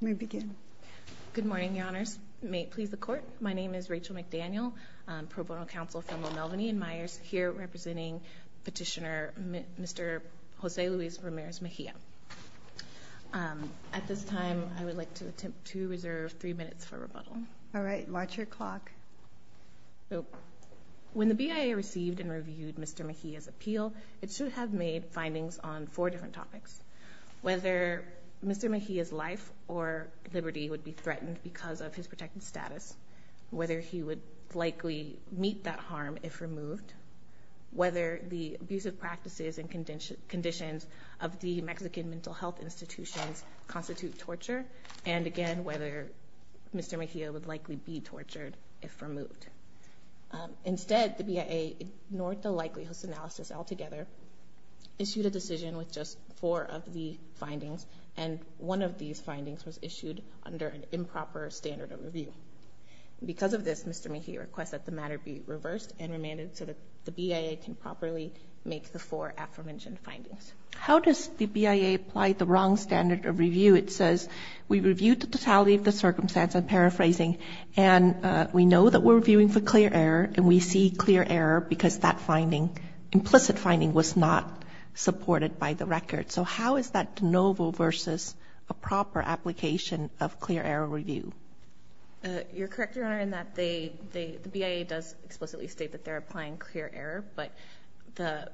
May begin. Good morning, your honors. May it please the court, my name is Rachel McDaniel, pro bono counsel for Melvin E. and Meyers, here representing petitioner Mr. Jose Luis Ramirez Mejia. At this time I would like to attempt to reserve three minutes for rebuttal. All right, watch your clock. When the BIA received and reviewed Mr. Mejia's appeal, it should have made findings on four different topics. Whether Mr. Mejia's life or liberty would be threatened because of his protected status, whether he would likely meet that harm if removed, whether the abusive practices and conditions of the Mexican mental health institutions constitute torture, and again, whether Mr. Mejia would likely be tortured if removed. Instead, the BIA ignored the four of the findings, and one of these findings was issued under an improper standard of review. Because of this, Mr. Mejia requests that the matter be reversed and remanded so that the BIA can properly make the four aforementioned findings. How does the BIA apply the wrong standard of review? It says we reviewed the totality of the circumstance, I'm paraphrasing, and we know that we're reviewing for clear error, and we see clear error because that finding, implicit finding, was not supported by the record. So how is that de novo versus a proper application of clear error review? You're correct, Your Honor, in that the BIA does explicitly state that they're applying clear error, but the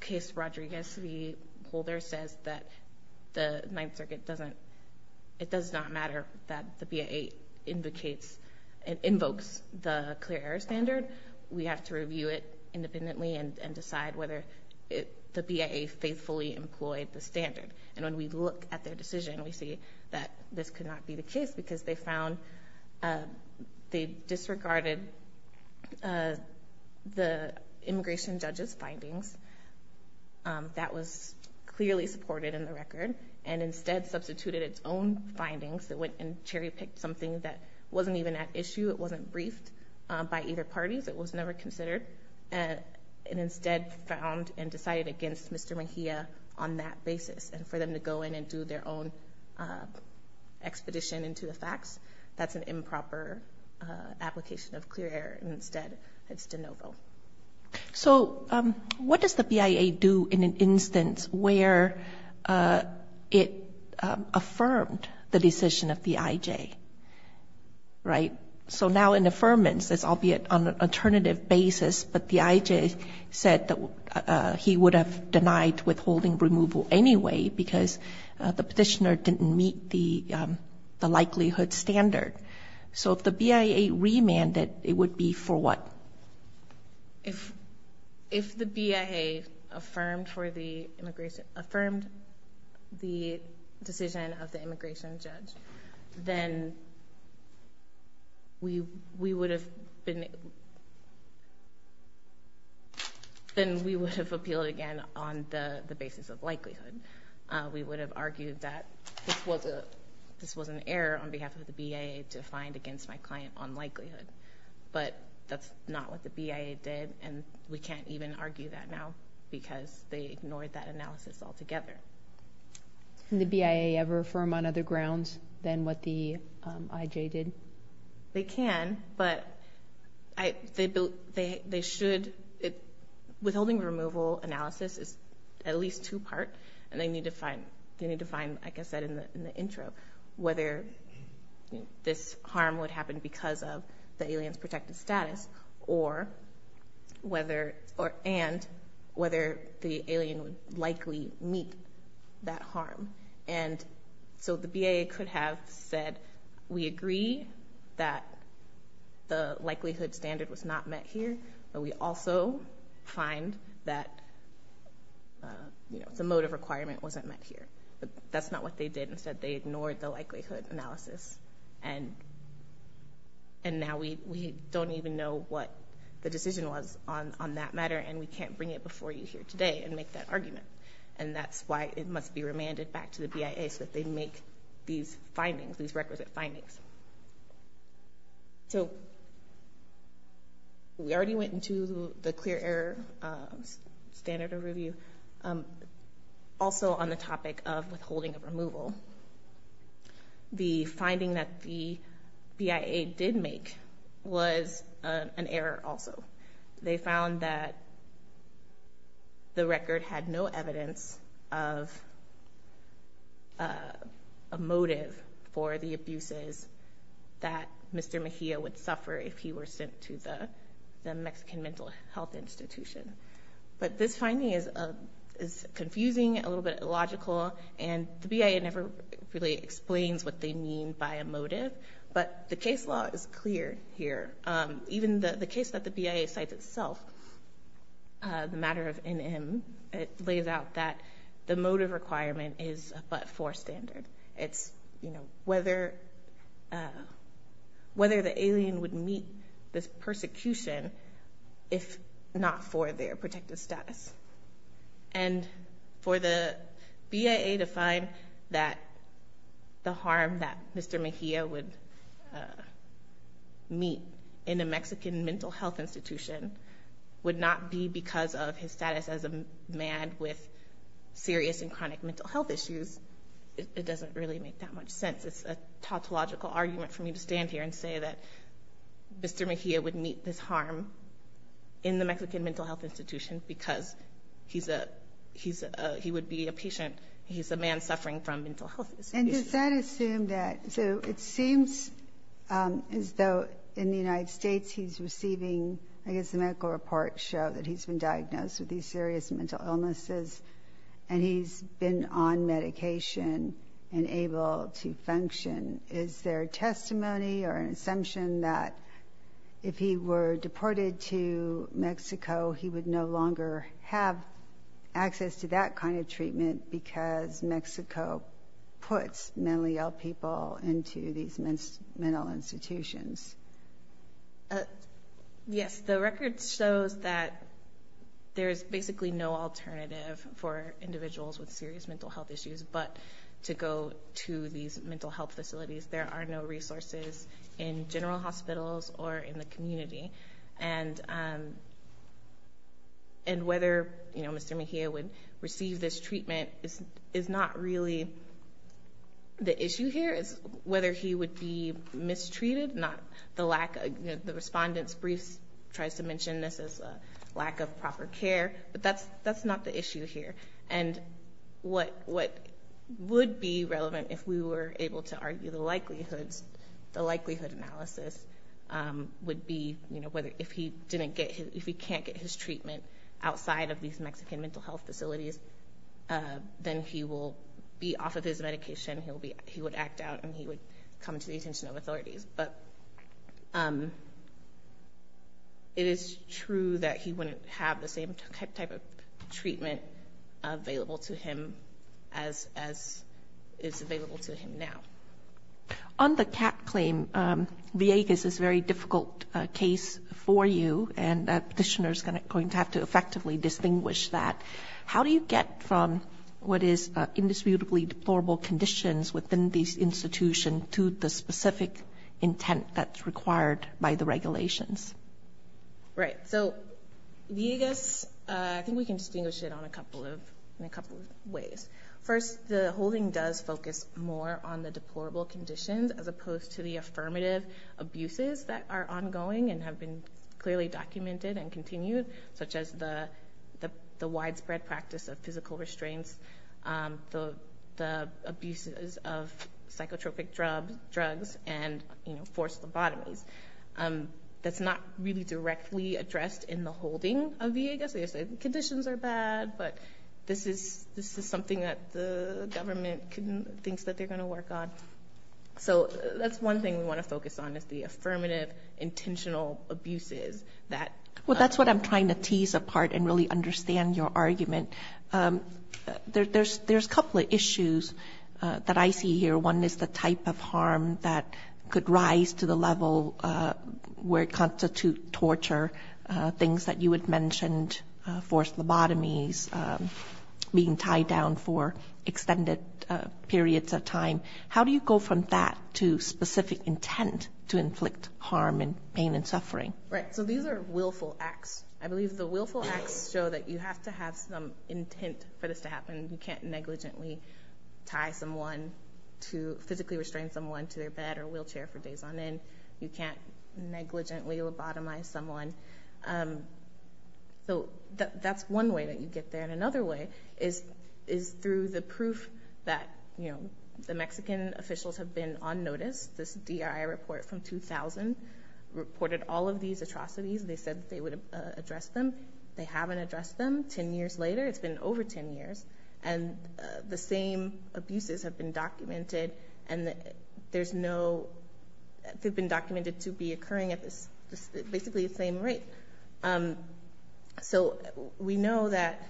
case Rodriguez v. Holder says that the Ninth Circuit doesn't, it does not matter that the BIA invokes the clear error standard. We have to review it independently and decide whether the BIA faithfully employed the standard. And when we look at their decision, we see that this could not be the case because they found, they disregarded the immigration judge's findings. That was clearly supported in the record, and instead substituted its own findings that went and cherry-picked something that wasn't even at issue, it wasn't briefed by either parties, it was never considered, and instead found and decided against Mr. Mejia on that basis. And for them to go in and do their own expedition into the facts, that's an improper application of clear error, and instead it's de novo. So what does the BIA do in an instance where it affirmed the decision of the IJ? Right? So now in affirmance, this will be on an alternative basis, but the IJ said that he would have denied withholding removal anyway because the petitioner didn't meet the likelihood standard. So if the BIA remanded, it would be for what? If the BIA affirmed the decision of the immigration judge, then we would have been, then we would have appealed again on the basis of likelihood. We would have argued that this was a, this was an error on behalf of the BIA to find against my client on likelihood, but that's not what the BIA did, and we can't even argue that now because they ignored that analysis altogether. Can the BIA ever affirm on other grounds than what the IJ did? They can, but they should, withholding removal analysis is at least two-part, and they need to find, they need to find, like I said in the intro, whether this harm would happen because of the alien's protected status or whether, or and whether the alien would likely meet that harm. And so the BIA could have said, we agree that the likelihood standard was not met here, but we also find that, you know, the motive requirement wasn't met here, but that's not what they did. Instead, they ignored the likelihood analysis, and now we don't even know what the decision was on that matter, and we can't bring it before you here today and make that argument. And that's why it must be remanded back to the BIA so that they make these findings, these requisite findings. So we already went into the clear error standard of review. Also on the topic of withholding removal, the finding that the BIA did make was an error also. They found that the record had no evidence of a motive for the abuses that Mr. Mejia would suffer if he were sent to the Mexican mental health institution. But this is confusing, a little bit illogical, and the BIA never really explains what they mean by a motive, but the case law is clear here. Even the case that the BIA cites itself, the matter of NM, it lays out that the motive requirement is a but-for standard. It's, you know, whether the alien would meet this For the BIA to find that the harm that Mr. Mejia would meet in a Mexican mental health institution would not be because of his status as a man with serious and chronic mental health issues, it doesn't really make that much sense. It's a tautological argument for me to stand here and say that Mr. Mejia would meet this harm in the Mexican mental health institution because he's a, he's a, he would be a patient, he's a man suffering from mental health issues. And does that assume that, so it seems as though in the United States he's receiving, I guess the medical reports show that he's been diagnosed with these serious mental illnesses and he's been on medication and able to function. Is there testimony or an if he were deported to Mexico, he would no longer have access to that kind of treatment because Mexico puts mentally ill people into these mental institutions? Yes, the record shows that there's basically no alternative for individuals with serious mental health issues but to go to these mental health facilities. There are no resources in general hospitals or in the community. And, and whether, you know, Mr. Mejia would receive this treatment is, is not really the issue here. It's whether he would be mistreated, not the lack of, the respondent's briefs tries to mention this as a lack of proper care, but that's that's not the issue here. And what, what would be relevant if we were able to argue the likelihoods, the likelihood analysis would be, you know, whether if he didn't get, if he can't get his treatment outside of these Mexican mental health facilities, then he will be off of his medication. He'll be, he would act out and he would come to the attention of authorities. But it is true that he wouldn't have the same type of treatment available to him as, as is the case. On the CAT claim, Viegas is a very difficult case for you and a petitioner's going to have to effectively distinguish that. How do you get from what is indisputably deplorable conditions within these institutions to the specific intent that's required by the regulations? Right. So, Viegas, I think we can distinguish it on a couple of, in a couple of ways. First, the holding does focus more on the deplorable conditions as opposed to the affirmative abuses that are ongoing and have been clearly documented and continued, such as the, the widespread practice of physical restraints, the abuses of psychotropic drugs and, you know, forced lobotomies. That's not really directly addressed in the holding of Viegas. They say conditions are bad, but this is, this is something that the government thinks that they're going to work on. So that's one thing we want to focus on is the affirmative, intentional abuses that... Well, that's what I'm trying to tease apart and really understand your argument. There's, there's a couple of issues that I see here. One is the type of harm that could rise to the level where it constitute torture, things that you had mentioned, forced lobotomies, being tied down for extended periods of time. How do you go from that to specific intent to inflict harm and pain and suffering? Right. So these are willful acts. I believe the willful acts show that you have to have some intent for this to happen. You can't negligently tie someone to, physically restrain someone to their bed or wheelchair for days on end. You can't negligently lobotomize someone. So that's one way that you get there. And another way is, is through the proof that, you know, the Mexican officials have been on notice. This DRI report from 2000 reported all of these atrocities. They said they would address them. They haven't addressed them. Ten years later, it's been over 10 years, and the same abuses have been documented to be occurring at basically the same rate. So we know that,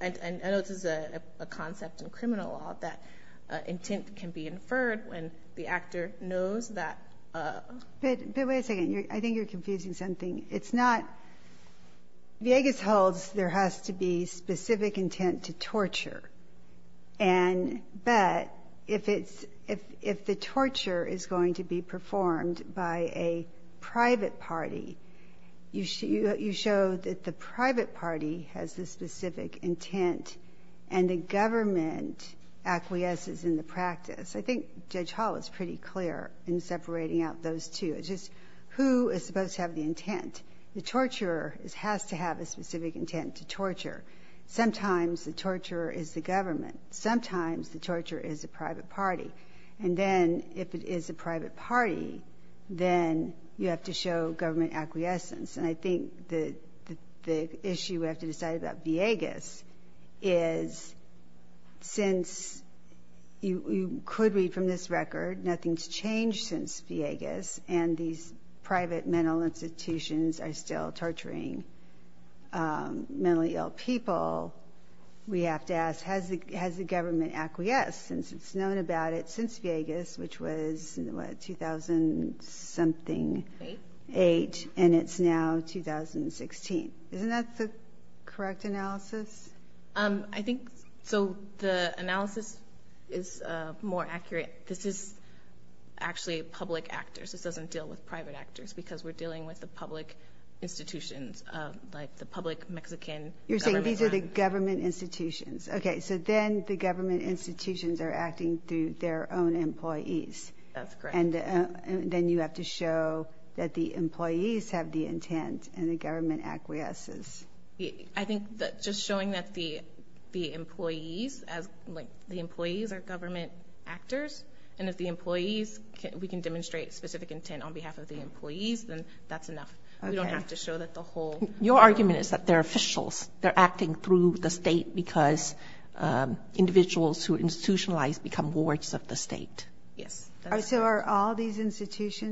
and I know this is a concept in criminal law, that intent can be inferred when the actor knows that... But wait a second. I think you're confusing something. It's not...Villegas holds there has to be specific intent to torture, but if the torture is going to be performed by a private party, you show that the private party has the specific intent, and the government acquiesces in the practice. I think Judge Hall is pretty clear in separating out those two. It's just who is supposed to have the intent. The torturer has to have a specific intent to torture. Sometimes the torturer is the government. Sometimes the torturer is the private party. And then, if it is a private party, then you have to show government acquiescence. And I think the issue we have to decide about Villegas is, since you could read from this record, nothing's changed since Villegas, and these private mental institutions are still torturing mentally ill people, we have to ask, has the government acquiesced in the practice, which was, what, 2008, and it's now 2016. Isn't that the correct analysis? I think... So the analysis is more accurate. This is actually public actors. This doesn't deal with private actors, because we're dealing with the public institutions, like the public Mexican government. You're saying these are the government institutions. Okay. So then the government institutions are acting through their own employees. That's correct. And then you have to show that the employees have the intent, and the government acquiesces. I think that just showing that the employees are government actors, and if the employees, we can demonstrate specific intent on behalf of the employees, then that's enough. We don't have to show that the whole... Your argument is that they're officials. They're acting through the state, because individuals who are institutionalized become wards of the state. Yes. And I see that I'm almost running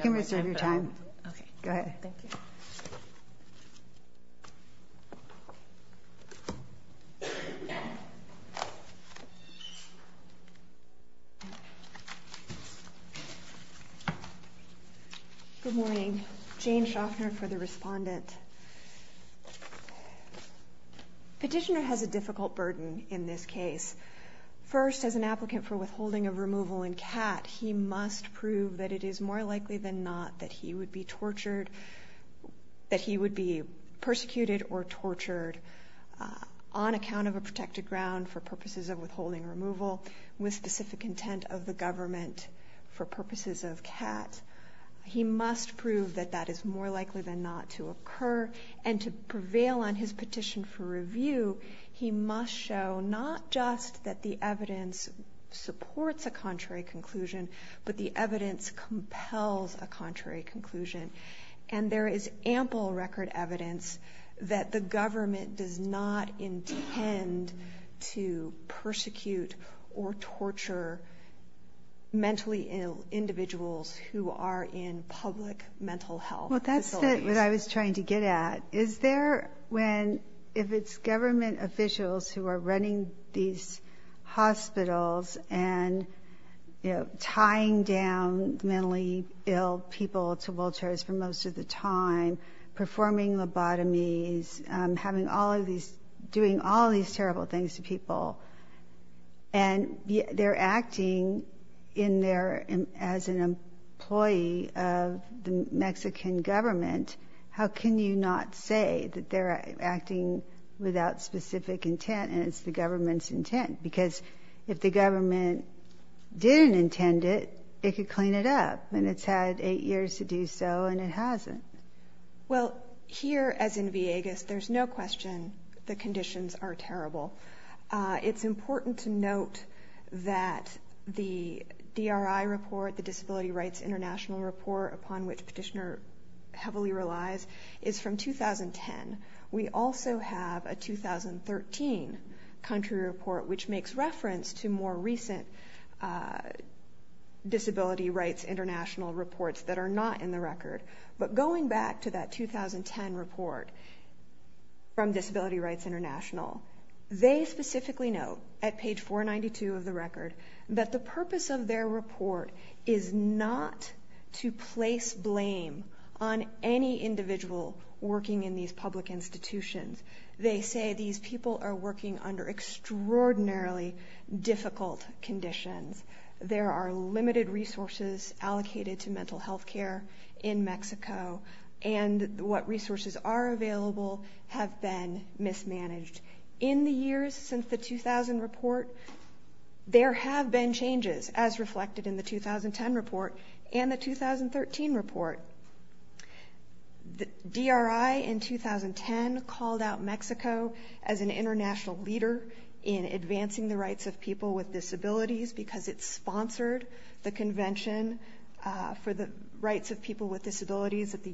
out of my time. Good morning. Jane Schaffner for the respondent. Petitioner has a difficult burden in this case. First, as an applicant for withholding of removal in CAT, he must prove that it is more likely than not that he would be tortured, that he would be persecuted or tortured on account of a specific intent of the government for purposes of CAT. He must prove that that is more likely than not to occur, and to prevail on his petition for review, he must show not just that the evidence supports a contrary conclusion, but the evidence compels a contrary conclusion. And there is ample record evidence that the government can torture mentally ill individuals who are in public mental health facilities. Well, that's what I was trying to get at. Is there when, if it's government officials who are running these hospitals and, you know, tying down mentally ill people to wheelchairs for most of the time, performing lobotomies, having all of these, doing all of these terrible things to people, and they're acting in their, as an employee of the Mexican government, how can you not say that they're acting without specific intent and it's the government's intent? Because if the government didn't intend it, it could clean it up, and it's had eight years to do so, and it hasn't. Well, here, as in Viegas, there's no question the conditions are terrible. It's important to note that the DRI report, the Disability Rights International report upon which Petitioner heavily relies, is from 2010. We also have a 2013 country report, which makes reference to more recent Disability Rights International reports that are not in the record. But going back to that 2010 report from Disability Rights International, they specifically note, at page 492 of the record, that the purpose of their report is not to place blame on any individual working in these public institutions. They say these people are working under extraordinarily difficult conditions. There are limited resources allocated to mental health care in Mexico, and what resources are available have been mismanaged. In the years since the 2000 report, there have been changes, as reflected in the 2010 report and the 2013 report. The DRI in 2010 called out Mexico as an international leader in advancing the rights of people with disabilities at the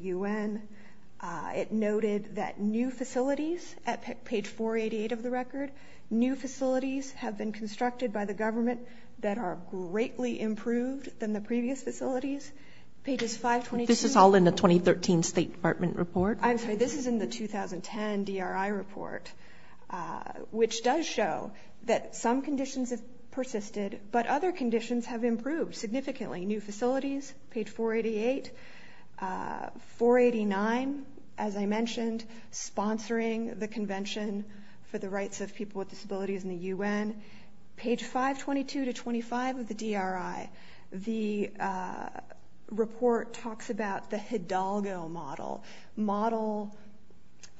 UN. It noted that new facilities, at page 488 of the record, new facilities have been constructed by the government that are greatly improved than the previous facilities. Pages 522- This is all in the 2013 State Department report? I'm sorry, this is in the 2010 DRI report, which does show that some conditions have persisted, but other conditions have improved significantly. New facilities, page 488. 489, as I mentioned, sponsoring the convention for the rights of people with disabilities in the UN. Page 522-25 of the DRI, the report talks about the Hidalgo model,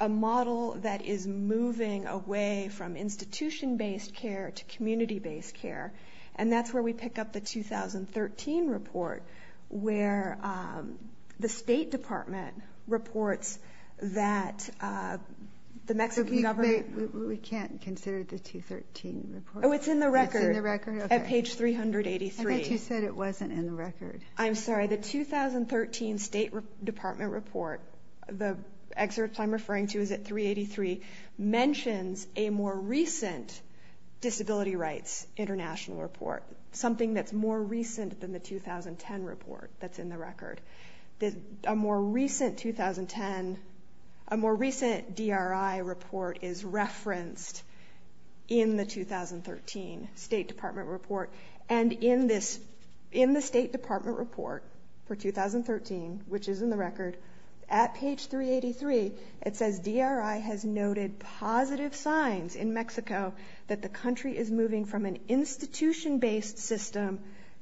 a model that is moving away from institution-based care to community-based care, and that's where we pick up the 2013 report, where the State Department reports that the Mexican government- We can't consider the 2013 report. Oh, it's in the record. It's in the record? At page 383. I thought you said it wasn't in the record. I'm sorry, the 2013 State Department report, the excerpt I'm referring to is at the recent Disability Rights International report, something that's more recent than the 2010 report that's in the record. A more recent 2010, a more recent DRI report is referenced in the 2013 State Department report, and in this, in the State Department report for 2013, which is in the record, at page 383, it says DRI has noted positive signs in Mexico that the country is moving from an institution-based system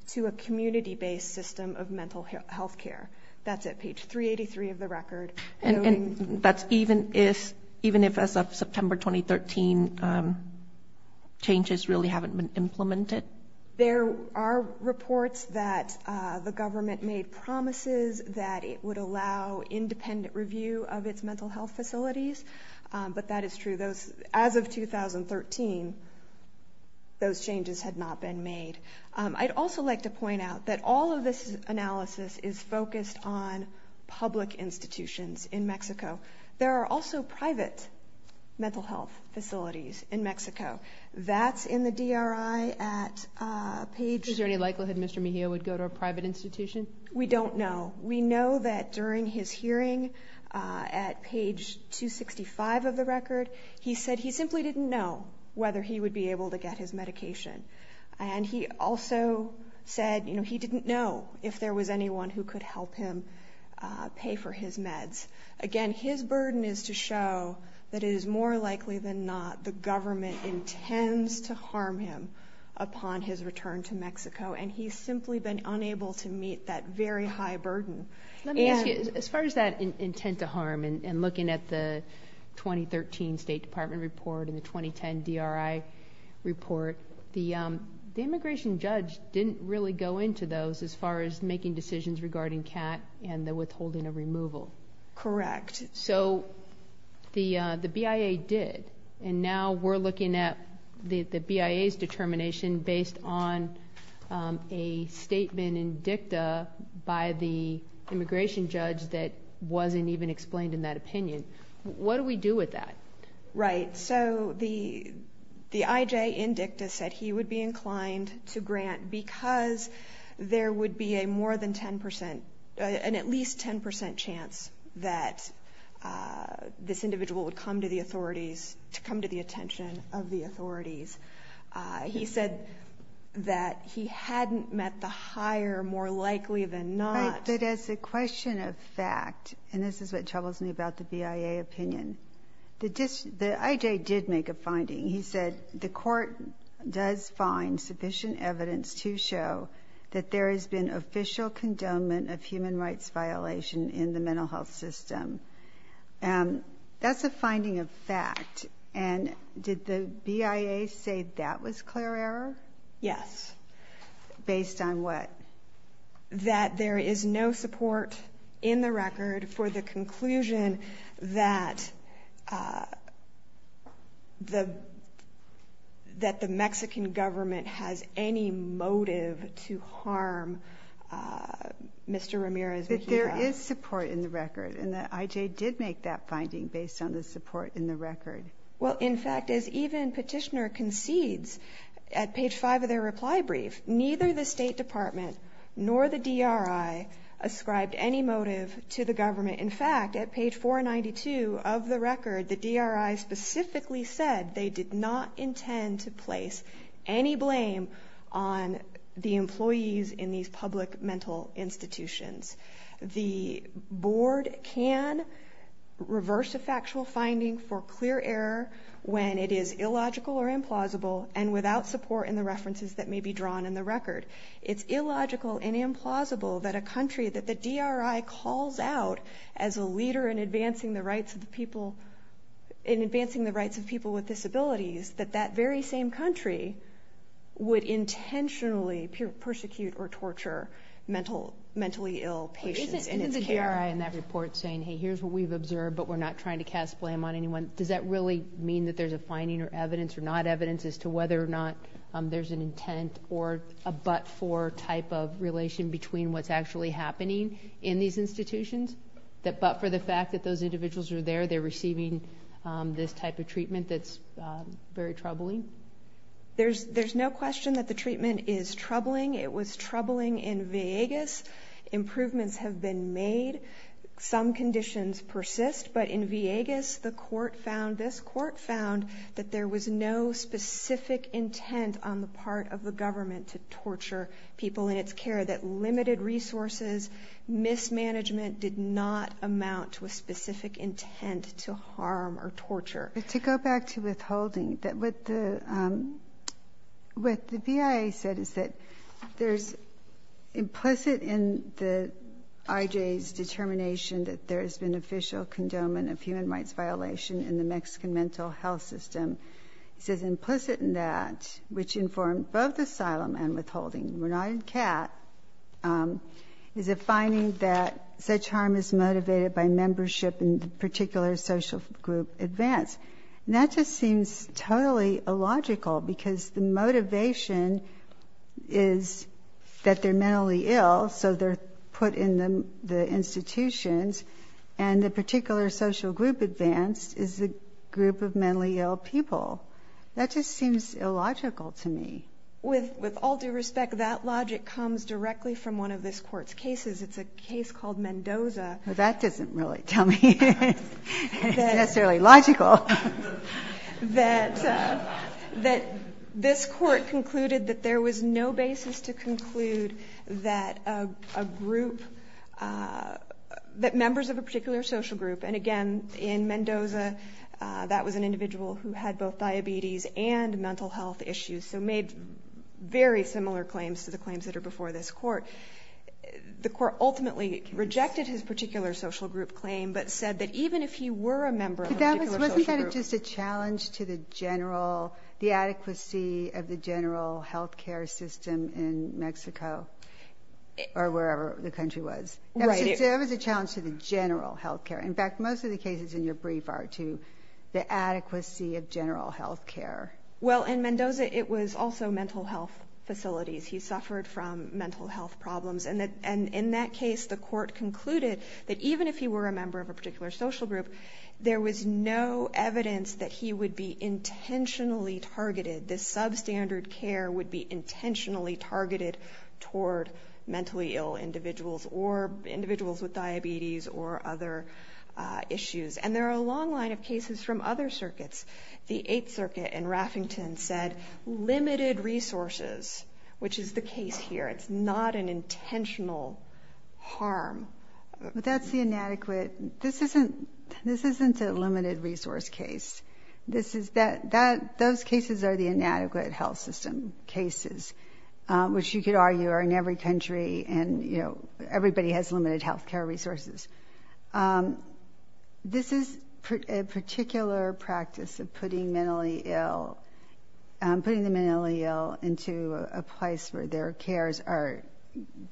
to a community-based system of mental health care. That's at page 383 of the record. And that's even if, as of September 2013, changes really haven't been implemented? There are reports that the government made promises that it would allow independent review of its mental health facilities, but that is true. As of 2013, those changes had not been made. I'd also like to point out that all of this analysis is focused on public institutions in Mexico. There are also private mental health facilities in Mexico. That's in the DRI at page? Is there any likelihood Mr. Mejia would go to a private institution? We don't know. We know that during his hearing at page 265 of the record, he said he simply didn't know whether he would be able to get his medication. And he also said he didn't know if there was anyone who could help him pay for his meds. Again, his burden is to show that it is more likely than not the government intends to harm him upon his return to Mexico, and he's simply been unable to handle that very high burden. Let me ask you, as far as that intent to harm and looking at the 2013 State Department report and the 2010 DRI report, the immigration judge didn't really go into those as far as making decisions regarding CAT and the withholding of removal. Correct. So the BIA did, and now we're looking at the BIA's determination based on a statement in DICTA by the immigration judge that wasn't even explained in that opinion. What do we do with that? Right. So the IJ in DICTA said he would be inclined to grant because there would be a more than 10 percent, an at least 10 percent chance that this individual would come to the authorities, to come to the attention of the authorities. He said that he hadn't met the hire more likely than not. Right. But as a question of fact, and this is what troubles me about the BIA opinion, the IJ did make a finding. He said the court does find sufficient evidence to show that there has been official condonement of human rights violation in the mental health system. That's a finding of fact. And did the BIA say that was clear error? Yes. Based on what? That there is no support in the record for the conclusion that the Mexican government has any motive to harm Mr. Ramirez. That there is support in the record, and the IJ did make that finding based on the support in the record. Well, in fact, as even petitioner concedes at page five of their reply brief, neither the State Department nor the DRI ascribed any motive to the government. In fact, at page 492 of the record, the DRI specifically said they did not intend to place any blame on the government. The board can reverse a factual finding for clear error when it is illogical or implausible, and without support in the references that may be drawn in the record. It's illogical and implausible that a country that the DRI calls out as a leader in advancing the rights of the people, in advancing the rights of people with disabilities, that that very same country would intentionally persecute or torture mentally ill patients in its care. Isn't the DRI in that report saying, hey, here's what we've observed, but we're not trying to cast blame on anyone. Does that really mean that there's a finding or evidence or not evidence as to whether or not there's an intent or a but for type of relation between what's actually happening in these institutions that, but for the fact that those individuals are there, they're receiving this type of treatment that's very troubling. There's no question that the treatment is troubling. It was troubling in Vegas. Improvements have been made. Some conditions persist, but in Vegas the court found, this court found that there was no specific intent on the part of the government to torture people in its care, that limited resources mismanagement did not amount to a specific intent to harm or torture. To go back to withholding that with the, the BIA said is that there's implicit in the IJ's determination that there has been official condonement of human rights violation in the Mexican mental health system. It says implicit in that, which informed both asylum and withholding, we're not in cat, is a finding that such harm is motivated by membership in particular social group events. And that just seems totally illogical because the motivation is that they're mentally ill. So they're put in the, the institutions and the particular social group advanced is the group of mentally ill people. That just seems illogical to me with, with all due respect, that logic comes directly from one of this court's cases. It's a case called Mendoza. That doesn't really tell me necessarily logical that, that this court concluded that there was no basis to conclude that a group that members of a particular social group. And again, in Mendoza that was an individual who had both diabetes and mental health issues. So made very similar claims to the claims that are before this court. The court ultimately rejected his particular social group claim, but said that even if he were a member of that, it was just a challenge to the general, the adequacy of the general healthcare system in Mexico or wherever the country was. It was a challenge to the general healthcare. In fact, most of the cases in your brief are to the adequacy of general healthcare. Well, and Mendoza, it was also mental health facilities. He suffered from mental health problems and that, and in that case, the court concluded that even if he were a member of a particular social group, there was no evidence that he would be intentionally targeted. This substandard care would be intentionally targeted toward mentally ill individuals or individuals with diabetes or other issues. And there are a long line of cases from other circuits. The eighth circuit in Raffington said limited resources, which is the case here. It's not an intentional harm, but that's the inadequate. This isn't, this isn't a limited resource case. This is that, that those cases are the inadequate health system cases, which you could argue are in every country. And, you know, everybody has limited healthcare resources. This is a particular practice of putting mentally ill putting the mentally ill into a place where their cares are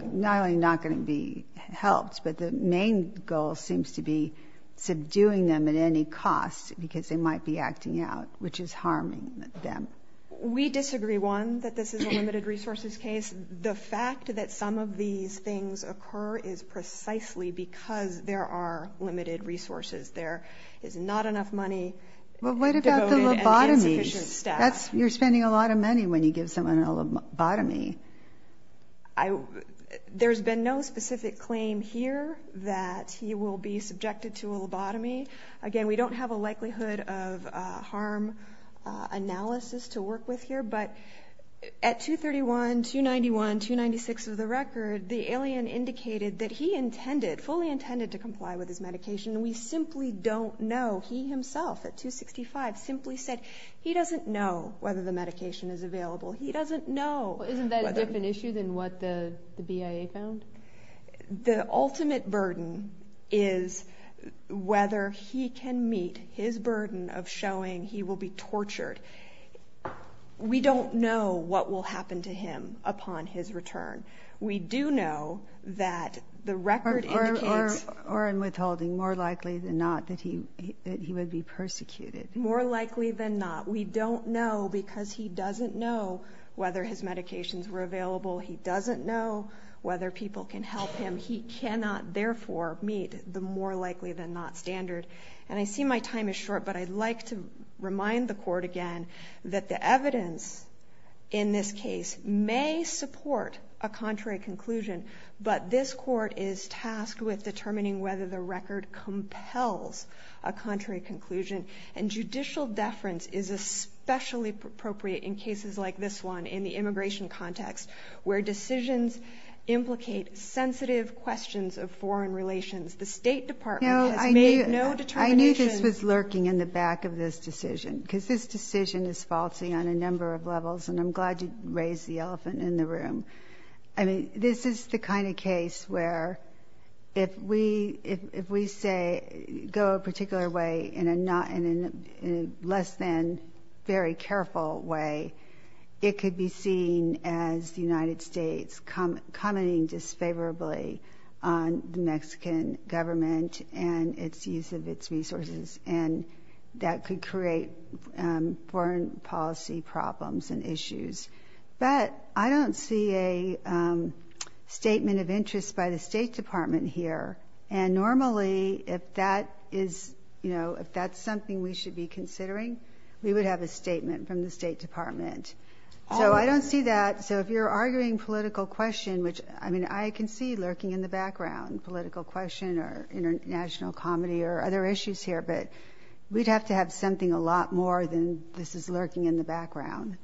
not only not going to be helped, but the main goal seems to be subduing them at any cost because they might be acting out, which is harming them. We disagree. One, that this is a limited resources case. The fact that some of these things occur is precisely because there are limited resources. There is not enough money. Well, what about the lobotomy staff? That's, you're spending a lot of money when you give someone a lobotomy. I, there's been no specific claim here that he will be subjected to a lobotomy. Again, we don't have a likelihood of harm analysis to work with here, but at 231, 291, 296 of the record, the alien indicated that he intended fully intended to comply with his medication. We simply don't know. He himself at 265 simply said he doesn't know whether the medication is available. He doesn't know. Isn't that a different issue than what the BIA found? The ultimate burden is whether he can meet his burden of showing he will be tortured. We don't know what will happen to him upon his return. We do know that the record. Or in withholding more likely than not that he, that he would be persecuted more likely than not. We don't know because he doesn't know whether his medications were available. He doesn't know whether people can help him. He cannot therefore meet the more likely than not standard. And I see my time is short, but I'd like to remind the court again that the evidence in this case may support a contrary conclusion, but this court is tasked with determining whether the record compels a contrary conclusion and judicial deference is a specially appropriate in cases like this one in the immigration context where decisions implicate sensitive questions of foreign relations. The state department has made no determination. I knew this was lurking in the back of this decision because this decision is faulty on a number of levels. And I'm glad you raised the elephant in the room. I mean, this is the kind of case where if we, if, if we say go a particular way in a not in a less than very careful way, it could be seen as the United States come commenting disfavorably on the Mexican government and its use of its resources. And that could create foreign policy problems and issues. But I don't see a statement of interest by the state department here. And normally if that is, you know, if that's something we should be considering, we would have a statement from the state department. So I don't see that. So if you're arguing political question, which I mean, I can see lurking in the background political question or international comedy or other issues here, but we'd have to have something a lot more than this is lurking in the Can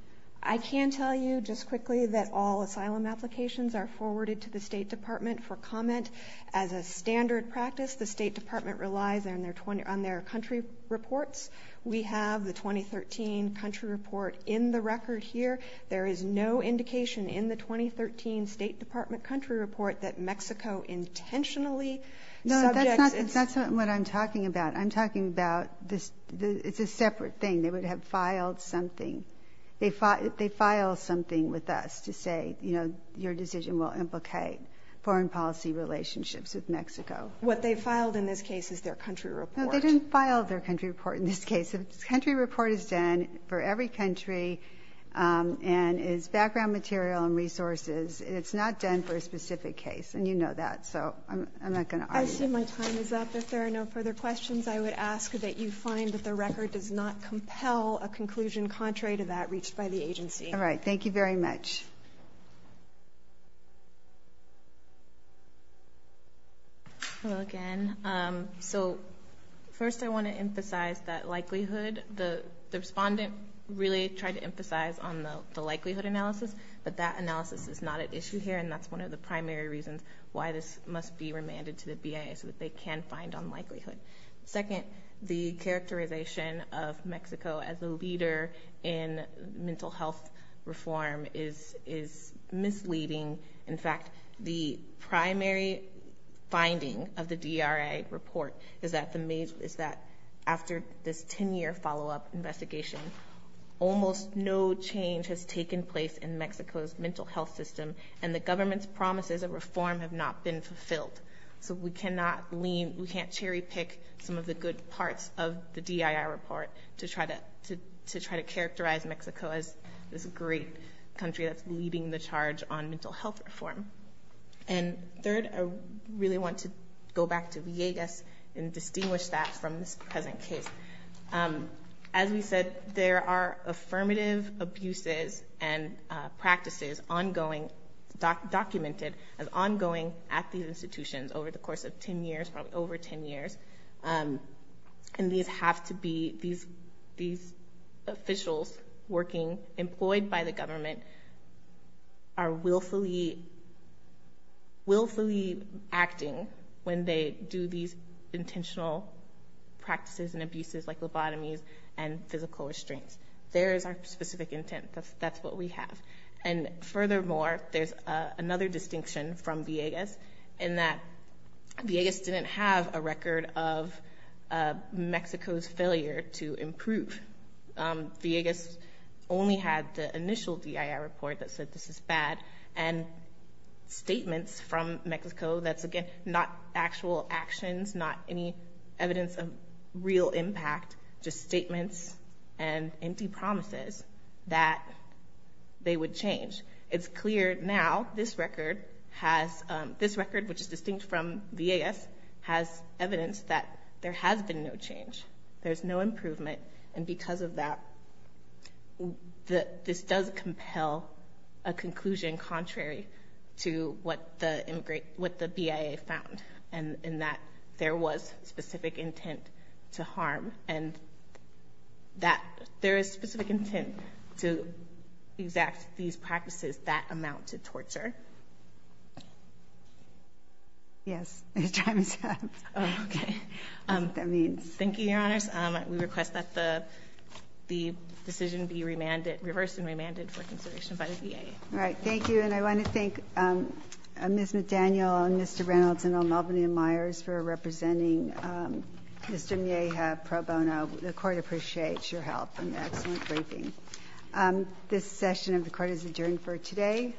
I tell you just quickly that all asylum applications are forwarded to the state department for comment as a standard practice, the state department relies on their 20 on their country reports. We have the 2013 country report in the record here. There is no indication in the 2013 state department country report that Mexico intentionally. No, that's not, that's not what I'm talking about. I'm talking about this. It's a separate thing. They would have filed something. They fought, they file something with us to say, you know, your decision will implicate foreign policy relationships with Mexico. What they filed in this case is their country report. They didn't file their country report in this case of country report is done for every country and is background material and resources. It's not done for a specific case. And you know that. So I'm not going to argue my time is up. If there are no further questions, I would ask that you find that the record does not compel a conclusion contrary to that reached by the agency. All right. Thank you very much. Hello again. So first I want to emphasize that likelihood. The respondent really tried to emphasize on the likelihood analysis, but that analysis is not at issue here, and that's one of the primary reasons why this must be remanded to the BIA so that they can find on likelihood. Second, the characterization of Mexico as a leader in mental health reform is misleading. In fact, the primary finding of the DRA report is that after this 10-year follow-up investigation, almost no change has taken place in Mexico's mental health system, and the government's promises of reform have not been fulfilled. So we cannot lean, we can't cherry pick some of the good parts of the DIA report to try to characterize Mexico as this great country that's leading the charge on mental health reform. And third, I really want to go back to Villegas and distinguish that from this present case. As we said, there are affirmative abuses and practices ongoing, documented as ongoing at these institutions over the course of 10 years, probably over 10 years. And these have to be, these officials working, employed by the government, are willfully acting when they do these intentional practices and abuses like lobotomies and physical restraints. There is our specific intent. That's what we have. And furthermore, there's another distinction from Villegas in that Villegas didn't have a record of Mexico's failure to improve. Villegas only had the initial DIA report that said, this is bad, and statements from Mexico that's, again, not actual actions, not any evidence of real impact, just statements and empty promises that they would change. It's clear now this record has, this record, which is distinct from Villegas, has evidence that there has been no change. There's no improvement. And because of that, this does compel a conclusion contrary to what the BIA found, and that there was specific intent to harm. And that there is specific intent to exact these practices that amount to torture. Yes. I was trying to say that. Oh, okay. That's what that means. Thank you, Your Honors. We request that the decision be remanded, reversed and remanded for consideration by the BIA. All right. Thank you. And I want to thank Ms. McDaniel and Mr. Reynolds and Old Melbourne and Myers for representing Mr. Mieja Pro Bono. The Court appreciates your help and excellent briefing. This session of the Court is adjourned for today.